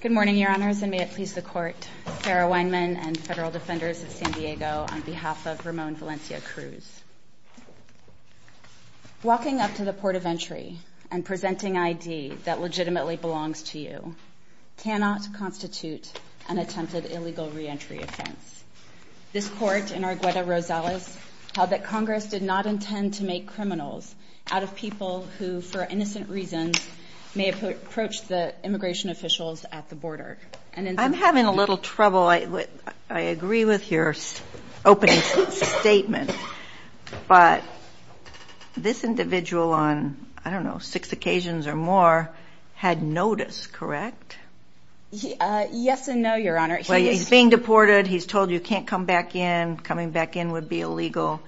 Good morning, Your Honors, and may it please the Court, Sarah Weinman and Federal Defenders of San Diego, on behalf of Ramon Valencia-Cruz. Walking up to the Port of Entry and presenting ID that legitimately belongs to you cannot constitute an attempted illegal reentry offense. This Court, in Arguello-Rosales, held that Congress did not intend to make criminals out of people who, for innocent reasons, may approach the immigration officials at the border. I'm having a little trouble. I agree with your opening statement, but this individual on, I don't know, six occasions or more, had notice, correct? Yes and no, Your Honor. He's being deported. He's told you can't come back in. Coming back in would be illegal.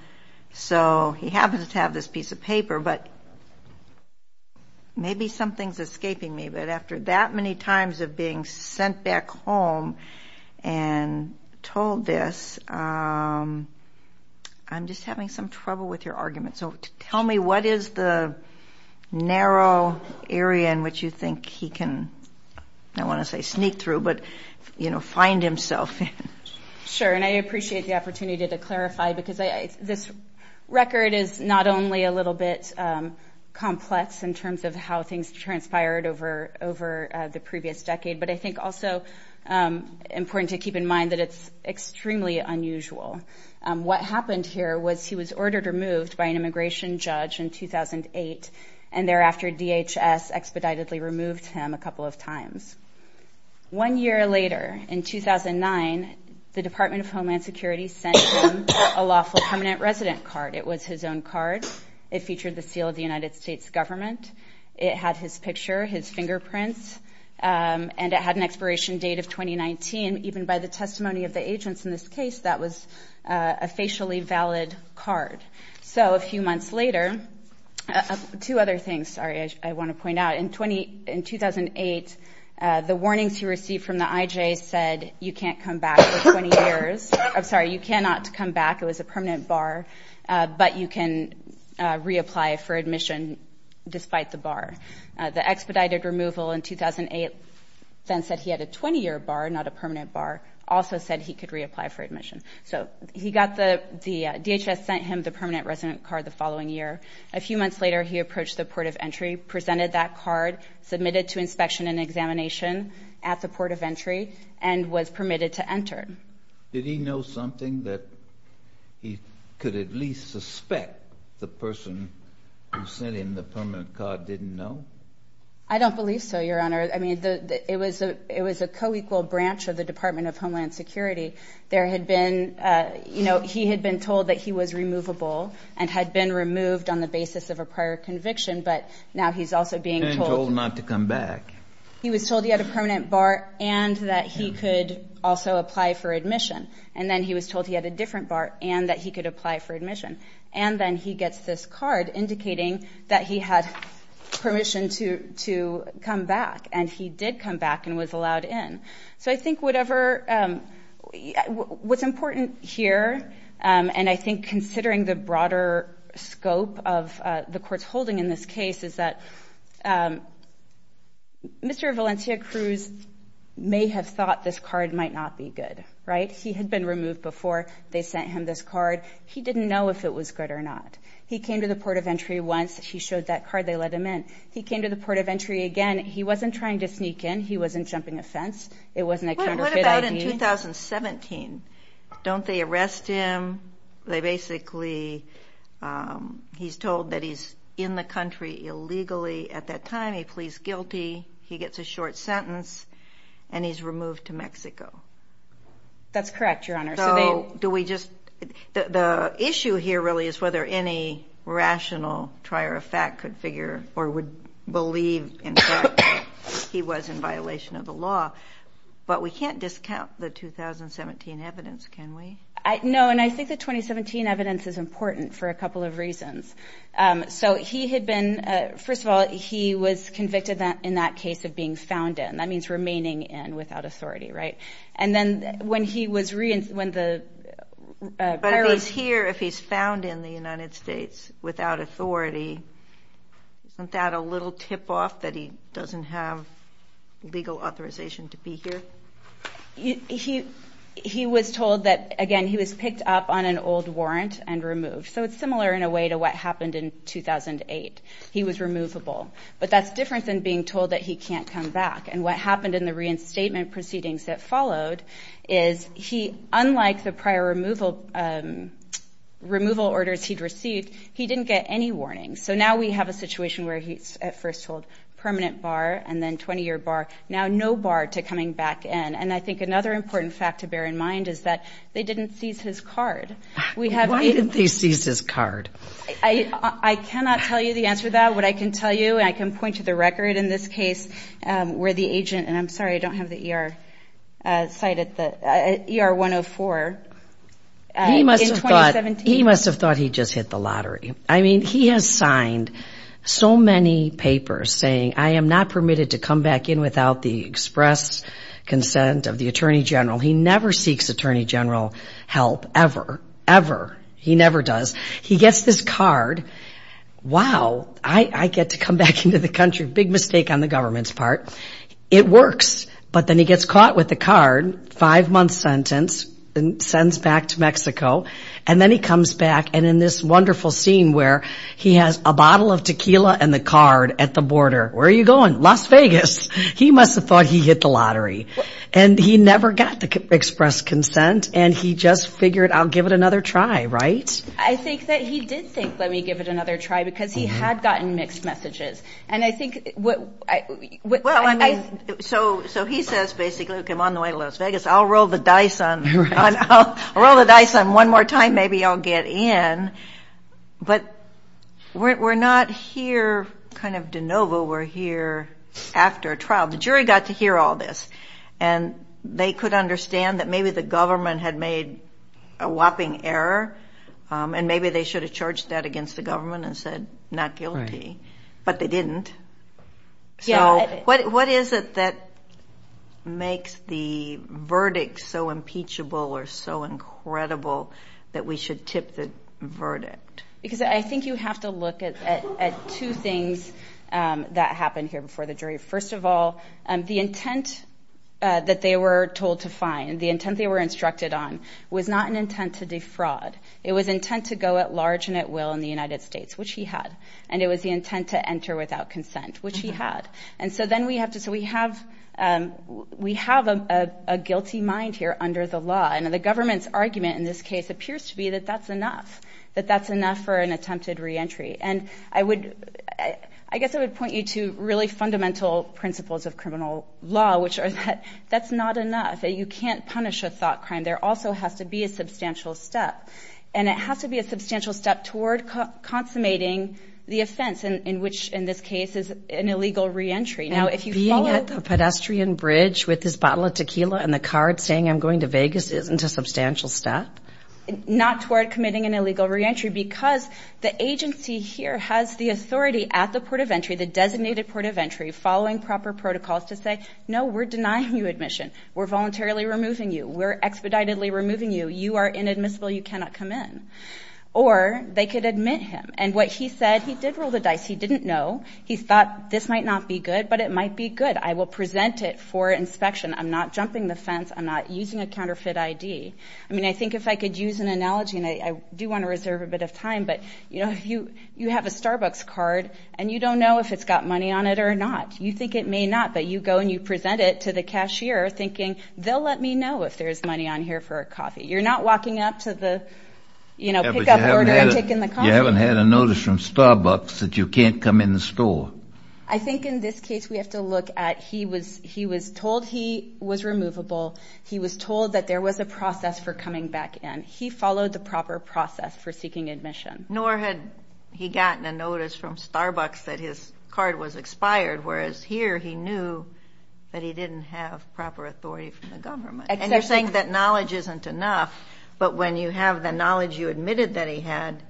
So he happens to have this piece of paper, but maybe something's escaping me. But after that many times of being sent back home and told this, I'm just having some trouble with your argument. So tell me, what is the narrow area in which you think he can, I don't want to say sneak through, but find himself in? Sure, and I appreciate the opportunity to clarify because this record is not only a little bit complex in terms of how things transpired over the previous decade, but I think also important to keep in mind that it's extremely unusual. What happened here was he was ordered removed by an immigration judge in 2008, and thereafter DHS expeditedly removed him a couple of times. One year later, in 2009, the Department of Homeland Security sent him a lawful permanent resident card. It was his own card. It featured the seal of the United States government. It had his picture, his fingerprints, and it had an expiration date of 2019. Even by the testimony of the agents in this case, that was a facially valid card. So a few months later, two other things, sorry, I want to point out. In 2008, the warnings he received from the IJ said you can't come back for 20 years. I'm sorry, you cannot come back. It was a permanent bar, but you can reapply for admission despite the bar. The expedited removal in 2008 then said he had a 20-year bar, not a permanent bar, also said he could reapply for admission. So DHS sent him the permanent resident card the following year. A few months later, he approached the port of entry, presented that card, submitted to inspection and examination at the port of entry, and was permitted to enter. Did he know something that he could at least suspect the person who sent him the permanent card didn't know? I don't believe so, Your Honor. It was a co-equal branch of the Department of Homeland Security. There had been, you know, he had been told that he was removable and had been removed on the basis of a prior conviction, but now he's also being told not to come back. He was told he had a permanent bar and that he could also apply for admission. And then he was told he had a different bar and that he could apply for admission. And then he gets this card indicating that he had permission to come back. And he did come back and was allowed in. So I think whatever, what's important here, and I think considering the broader scope of the court's holding in this case, is that Mr. Valencia Cruz may have thought this card might not be good, right? He had been removed before they sent him this card. He didn't know if it was good or not. He came to the port of entry once. He showed that card. They let him in. He came to the port of entry again. He wasn't trying to sneak in. He wasn't jumping a fence. It wasn't a counterfeit ID. But what about in 2017? Don't they arrest him? They basically, he's told that he's in the country illegally. At that time, he pleads guilty. He gets a short sentence and he's removed to Mexico. That's correct, Your Honor. So do we just, the issue here really is whether any rational trier of fact could figure or would believe, in fact, he was in violation of the law. But we can't discount the 2017 evidence, can we? No, and I think the 2017 evidence is important for a couple of reasons. So he had been, first of all, he was convicted in that case of being found in. That means remaining in without authority, right? And then when he was reinstated, when the... But if he's here, if he's found in the United States without authority, isn't that a little tip off that he doesn't have legal authorization to be here? He was told that, again, he was picked up on an old warrant and removed. So it's similar in a way to what happened in 2008. He was removable. But that's different than being told that he can't come back. And what happened in the reinstatement proceedings that followed is he, unlike the prior removal orders he'd received, he didn't get any warnings. So now we have a situation where he's at first told permanent bar and then 20-year bar. Now no bar to coming back in. And I think another important fact to bear in mind is that they didn't seize his card. We have... Why didn't they seize his card? I cannot tell you the answer to that. What I can tell you, and I can point to the record in this case where the agent, and I'm He must have thought he just hit the lottery. I mean, he has signed so many papers saying, I am not permitted to come back in without the express consent of the Attorney General. He never seeks Attorney General help, ever, ever. He never does. He gets this card, wow, I get to come back into the country. Big mistake on the government's part. It works. But then he gets caught with the card, five-month sentence, and sends back to Mexico. And then he comes back. And in this wonderful scene where he has a bottle of tequila and the card at the border, where are you going? Las Vegas. He must have thought he hit the lottery. And he never got the express consent. And he just figured, I'll give it another try, right? I think that he did think, let me give it another try, because he had gotten mixed messages. And I think what... Well, I mean, so he says, basically, okay, I'm on the way to Las Vegas, I'll roll the dice on one more time, maybe I'll get in. But we're not here kind of de novo. We're here after a trial. The jury got to hear all this. And they could understand that maybe the government had made a whopping error. And maybe they should have charged that against the government and said, not guilty. But they didn't. So what is it that makes the verdict so impeachable or so incredible that we should tip the verdict? Because I think you have to look at two things that happened here before the jury. First of all, the intent that they were told to find, the intent they were instructed on, was not an intent to defraud. It was intent to go at large and at will in the United States, which he had. And it was the intent to enter without consent, which he had. And so then we have to... So we have a guilty mind here under the law. And the government's argument in this case appears to be that that's enough, that that's enough for an attempted reentry. And I guess I would point you to really fundamental principles of criminal law, which are that that's not enough, that you can't punish a thought crime. There also has to be a substantial step. And it has to be a substantial step toward consummating the offense, in which in this case is an illegal reentry. Now if you follow... And being at the pedestrian bridge with this bottle of tequila and the card saying, I'm going to Vegas, isn't a substantial step? Not toward committing an illegal reentry because the agency here has the authority at the port of entry, the designated port of entry, following proper protocols to say, no, we're denying you admission. We're voluntarily removing you. We're expeditedly removing you. You are inadmissible. You cannot come in. Or they could admit him. And what he said... He did roll the dice. He didn't know. He thought this might not be good, but it might be good. I will present it for inspection. I'm not jumping the fence. I'm not using a counterfeit ID. I mean, I think if I could use an analogy, and I do want to reserve a bit of time, but you have a Starbucks card and you don't know if it's got money on it or not. You think it may not, but you go and you present it to the cashier thinking, they'll let me know if there's money on here for a coffee. You're not walking up to the, you know, pickup order and taking the coffee. You haven't had a notice from Starbucks that you can't come in the store. I think in this case, we have to look at, he was told he was removable. He was told that there was a process for coming back in. He followed the proper process for seeking admission. Nor had he gotten a notice from Starbucks that his card was expired, whereas here he knew that he didn't have proper authority from the government. And you're saying that knowledge isn't enough, but when you have the knowledge you admitted that he had,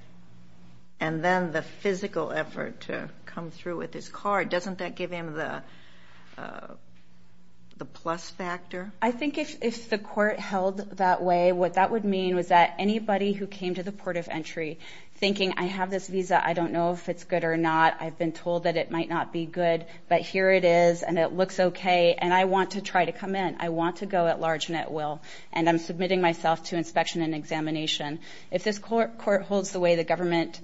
and then the physical effort to come through with his card, doesn't that give him the plus factor? I think if the court held that way, what that would mean was that anybody who came to the port of entry thinking, I have this visa, I don't know if it's good or not. I've been told that it might not be good, but here it is, and it looks okay, and I want to try to come in. I want to go at large and at will, and I'm submitting myself to inspection and examination. If this court holds the way the government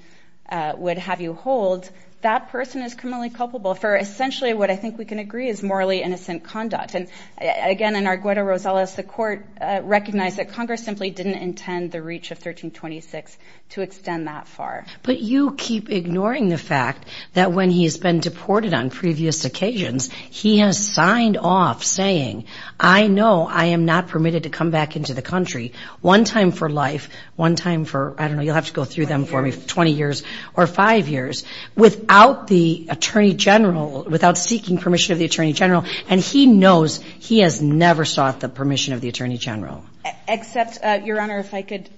would have you hold, that person is criminally culpable for essentially what I think we can agree is morally innocent conduct. And again, in our Guero Rosales, the court recognized that Congress simply didn't intend the reach of 1326 to extend that far. But you keep ignoring the fact that when he's been deported on previous occasions, he has I know I am not permitted to come back into the country, one time for life, one time for I don't know, you'll have to go through them for me, 20 years or five years, without the Attorney General, without seeking permission of the Attorney General, and he knows he has never sought the permission of the Attorney General. Except, Your Honor, if I could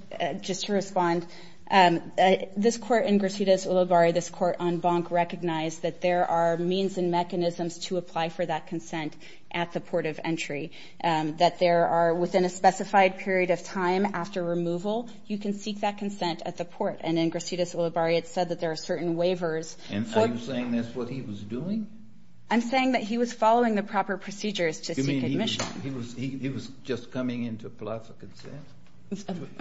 just respond. This court in Gracidas, Ulubarri, this court on Bonk recognized that there are means and that there are, within a specified period of time after removal, you can seek that consent at the port. And in Gracidas, Ulubarri, it said that there are certain waivers. And so you're saying that's what he was doing? I'm saying that he was following the proper procedures to seek admission. You mean he was just coming in to apply for consent?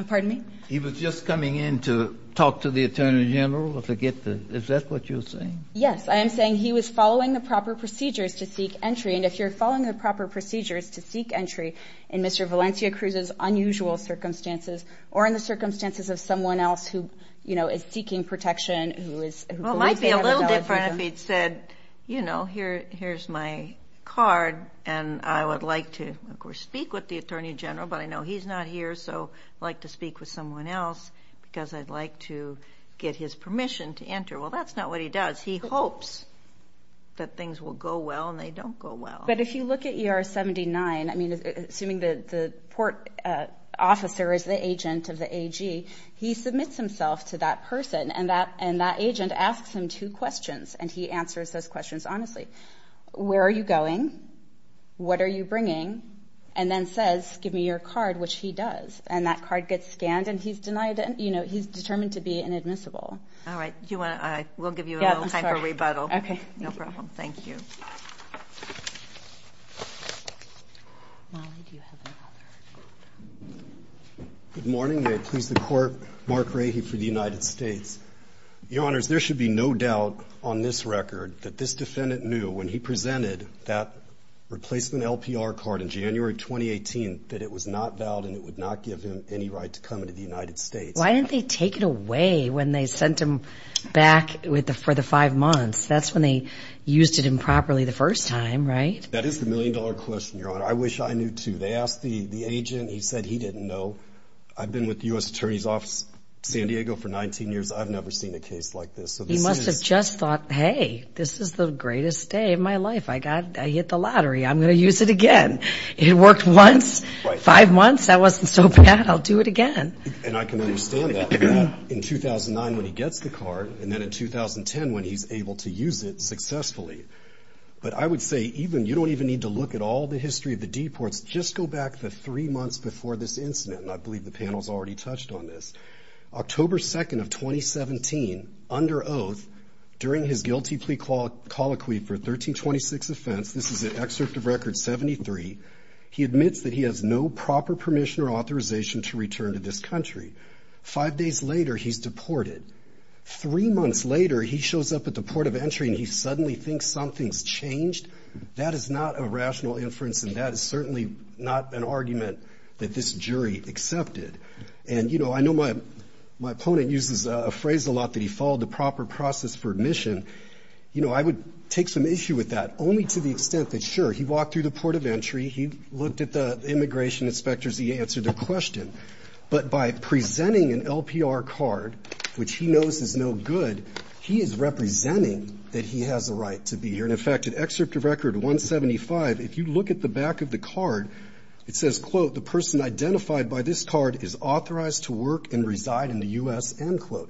Pardon me? He was just coming in to talk to the Attorney General, to get the Is that what you're saying? Yes. I am saying he was following the proper procedures to seek entry. And if you're following the proper procedures to seek entry in Mr. Valencia Cruz's unusual circumstances, or in the circumstances of someone else who, you know, is seeking protection, who is... Well, it might be a little different if he'd said, you know, here's my card, and I would like to, of course, speak with the Attorney General. But I know he's not here, so I'd like to speak with someone else, because I'd like to get his permission to enter. Well, that's not what he does. He hopes that things will go well, and they don't go well. But if you look at ER 79, I mean, assuming the port officer is the agent of the AG, he submits himself to that person, and that agent asks him two questions, and he answers those questions honestly. Where are you going? What are you bringing? And then says, give me your card, which he does. And that card gets scanned, and he's denied, you know, he's determined to be inadmissible. All right. Do you want to... We'll give you a little time for rebuttal. Yeah, I'm sorry. Okay. No problem. Thank you. Molly, do you have another? Good morning. May it please the Court, Mark Rahe for the United States. Your Honors, there should be no doubt on this record that this defendant knew when he presented that replacement LPR card in January 2018 that it was not valid, and it would not give him any right to come into the United States. Why didn't they take it away when they sent him back for the five months? That's when they used it improperly the first time, right? That is the million-dollar question, Your Honor. I wish I knew, too. They asked the agent. He said he didn't know. I've been with the U.S. Attorney's Office, San Diego, for 19 years. I've never seen a case like this. So this is... He must have just thought, hey, this is the greatest day of my life. I got... I hit the lottery. I'm going to use it again. It worked once, five months. That wasn't so bad. I'll do it again. And I can understand that, in 2009 when he gets the card, and then in 2010 when he's able to use it successfully. But I would say even... You don't even need to look at all the history of the deports. Just go back the three months before this incident, and I believe the panel's already touched on this. October 2nd of 2017, under oath, during his guilty plea colloquy for 1326 offense, this is an excerpt of Record 73, he admits that he has no proper permission or authorization to return to this country. Five days later, he's deported. Three months later, he shows up at the port of entry, and he suddenly thinks something's changed. That is not a rational inference, and that is certainly not an argument that this jury accepted. And, you know, I know my opponent uses a phrase a lot that he followed the proper process for admission. You know, I would take some issue with that, only to the extent that, sure, he walked through the port of entry, he looked at the immigration inspectors, he answered their question. But by presenting an LPR card, which he knows is no good, he is representing that he has a right to be here. In fact, in excerpt of Record 175, if you look at the back of the card, it says, quote, the person identified by this card is authorized to work and reside in the U.S., end quote.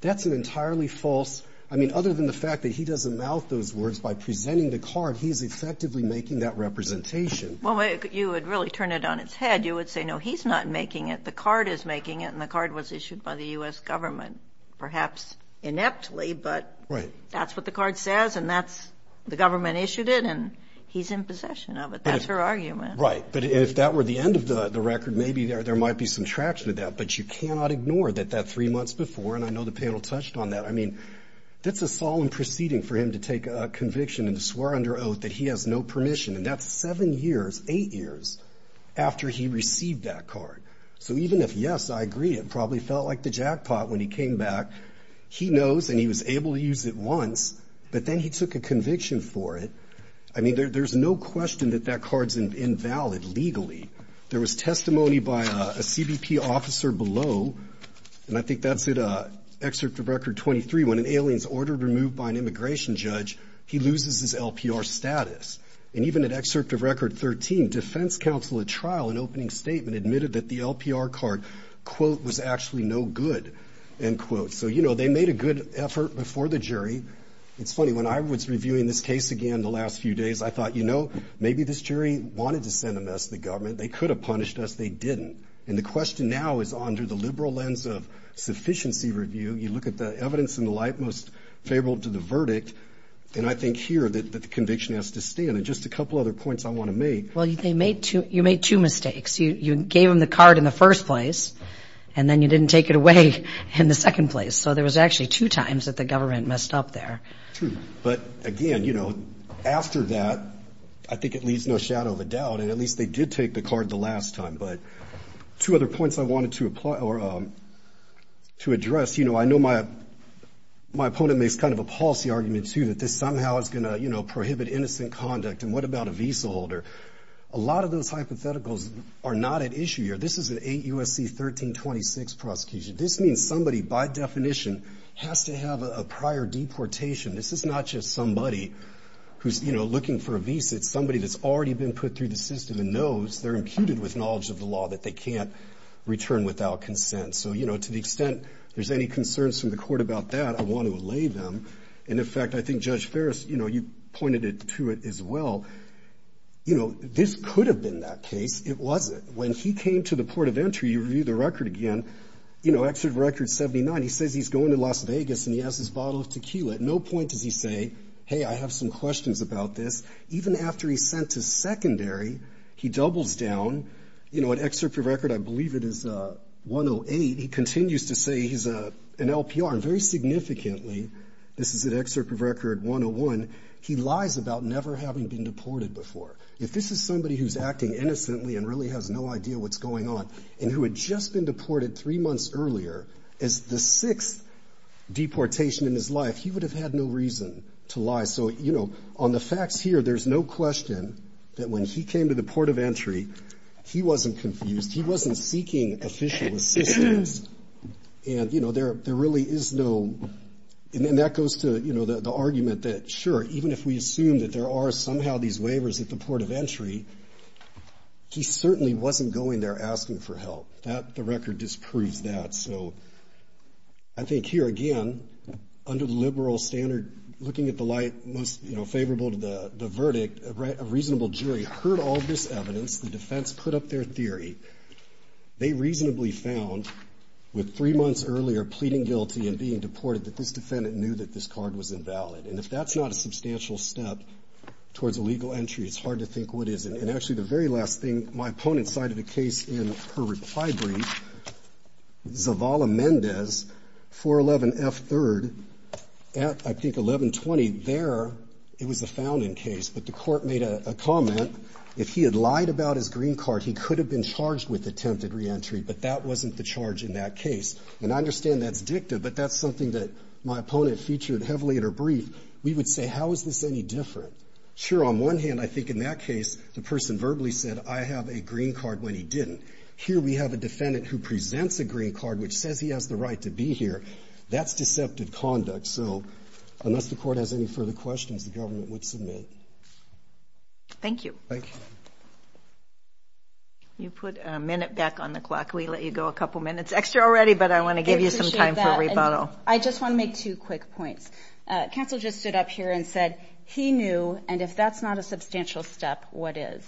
That's an entirely false... I mean, other than the fact that he doesn't mouth those words, by presenting the card, he's effectively making that representation. Well, you would really turn it on its head. You would say, no, he's not making it. The card is making it, and the card was issued by the U.S. government, perhaps ineptly, but that's what the card says, and that's the government issued it, and he's in possession of it. That's her argument. Right. But if that were the end of the record, maybe there might be some traction of that, but you cannot ignore that that three months before, and I know the panel touched on that, I mean, that's a solemn proceeding for him to take a conviction and to swear under oath that he has no permission, and that's seven years, eight years, after he received that card. So even if, yes, I agree, it probably felt like the jackpot when he came back, he knows and he was able to use it once, but then he took a conviction for it. I mean, there's no question that that card's invalid legally. There was testimony by a CBP officer below, and I think that's in excerpt of Record 23, when an alien's ordered removed by an immigration judge, he loses his LPR status, and even at excerpt of Record 13, defense counsel at trial in opening statement admitted that the LPR card, quote, was actually no good, end quote. So you know, they made a good effort before the jury. It's funny, when I was reviewing this case again the last few days, I thought, you know, maybe this jury wanted to send a message to the government, they could have punished us, they didn't, and the question now is under the liberal lens of sufficiency review, you look at the evidence in the light most favorable to the verdict, and I think here that the conviction has to stand. And just a couple other points I want to make. Well, you made two mistakes. You gave them the card in the first place, and then you didn't take it away in the second place. So there was actually two times that the government messed up there. True. But again, you know, after that, I think it leaves no shadow of a doubt, and at least they did take the card the last time. But two other points I wanted to apply or to address, you know, I know my opponent makes kind of a policy argument, too, that this somehow is going to, you know, prohibit innocent conduct, and what about a visa holder? A lot of those hypotheticals are not at issue here. This is an 8 U.S.C. 1326 prosecution. This means somebody, by definition, has to have a prior deportation. This is not just somebody who's, you know, looking for a visa, it's somebody that's already been put through the system and knows, they're imputed with knowledge of the law that they can't return without consent. So, you know, to the extent there's any concerns from the court about that, I want to allay them. And in fact, I think Judge Ferris, you know, you pointed it to it as well. You know, this could have been that case. It wasn't. When he came to the port of entry, you review the record again, you know, Exit Record 79, he says he's going to Las Vegas, and he has his bottle of tequila. At no point does he say, hey, I have some questions about this. Even after he's sent to secondary, he doubles down. You know, at Excerpt of Record, I believe it is 108, he continues to say he's an LPR. And very significantly, this is at Excerpt of Record 101, he lies about never having been deported before. If this is somebody who's acting innocently and really has no idea what's going on, and who had just been deported three months earlier, as the sixth deportation in his life, he would have had no reason to lie. So, you know, on the facts here, there's no question that when he came to the port of entry, he wasn't confused. He wasn't seeking official assistance. And, you know, there really is no, and that goes to, you know, the argument that, sure, even if we assume that there are somehow these waivers at the port of entry, he certainly wasn't going there asking for help. The record disproves that. So I think here, again, under the liberal standard, looking at the light most, you know, favorable to the verdict, a reasonable jury heard all of this evidence, the defense put up their theory. They reasonably found, with three months earlier pleading guilty and being deported, that this defendant knew that this card was invalid. And if that's not a substantial step towards a legal entry, it's hard to think what is. And actually, the very last thing, my opponent cited a case in her reply brief, Zavala-Mendez, 411F3rd, at, I think, 1120. There, it was a found-in case, but the court made a comment. If he had lied about his green card, he could have been charged with attempted reentry, but that wasn't the charge in that case. And I understand that's dicta, but that's something that my opponent featured heavily in her brief. We would say, how is this any different? Sure, on one hand, I think in that case, the person verbally said, I have a green card when he didn't. Here we have a defendant who presents a green card, which says he has the right to be here. That's deceptive conduct. So unless the court has any further questions, the government would submit. Thank you. Thank you. You put a minute back on the clock. We let you go a couple minutes extra already, but I want to give you some time for rebuttal. I just want to make two quick points. Counsel just stood up here and said he knew, and if that's not a substantial step, what is?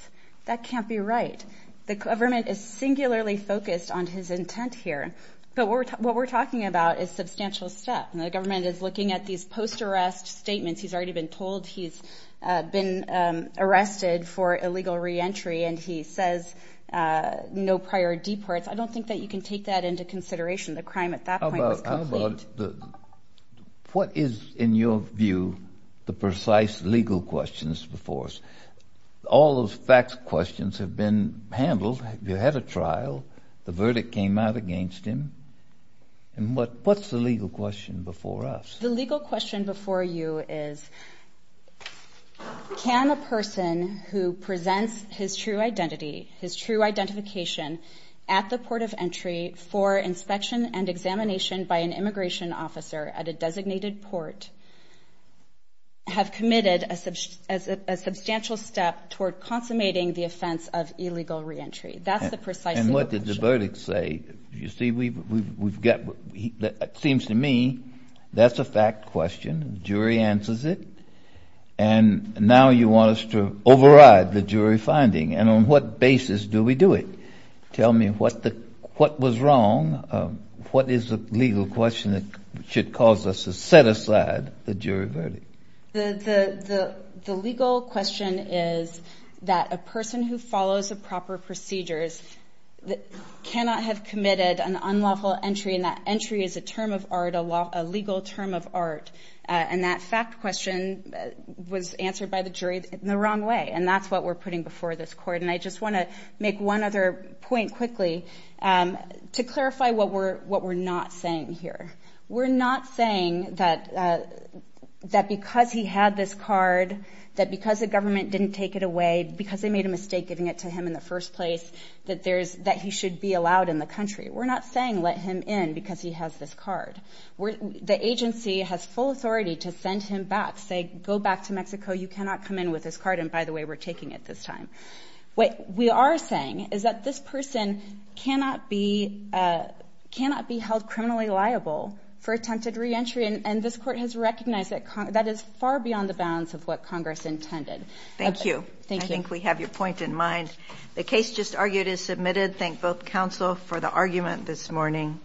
That can't be right. The government is singularly focused on his intent here, but what we're talking about is substantial step. And the government is looking at these post-arrest statements. He's already been told he's been arrested for illegal reentry, and he says no prior deports. I don't think that you can take that into consideration. The crime at that point was complete. Well, what is, in your view, the precise legal questions before us? All those facts questions have been handled. You had a trial. The verdict came out against him. And what's the legal question before us? The legal question before you is, can a person who presents his true identity, his true identification at the port of entry for inspection and examination by an immigration officer at a designated port, have committed a substantial step toward consummating the offense of illegal reentry? That's the precise legal question. And what did the verdict say? You see, we've got, it seems to me, that's a fact question. Jury answers it. And now you want us to override the jury finding. And on what basis do we do it? Tell me what was wrong. What is the legal question that should cause us to set aside the jury verdict? The legal question is that a person who follows the proper procedures cannot have committed an unlawful entry, and that entry is a term of art, a legal term of art. And that fact question was answered by the jury in the wrong way, and that's what we're putting before this court. And I just want to make one other point quickly to clarify what we're not saying here. We're not saying that because he had this card, that because the government didn't take it away, because they made a mistake giving it to him in the first place, that he should be allowed in the country. We're not saying let him in because he has this card. The agency has full authority to send him back, say, go back to Mexico, you cannot come in with this card. And by the way, we're taking it this time. What we are saying is that this person cannot be held criminally liable for attempted reentry. And this court has recognized that that is far beyond the bounds of what Congress intended. Thank you. Thank you. I think we have your point in mind. The case just argued is submitted. Thank both counsel for the argument this morning.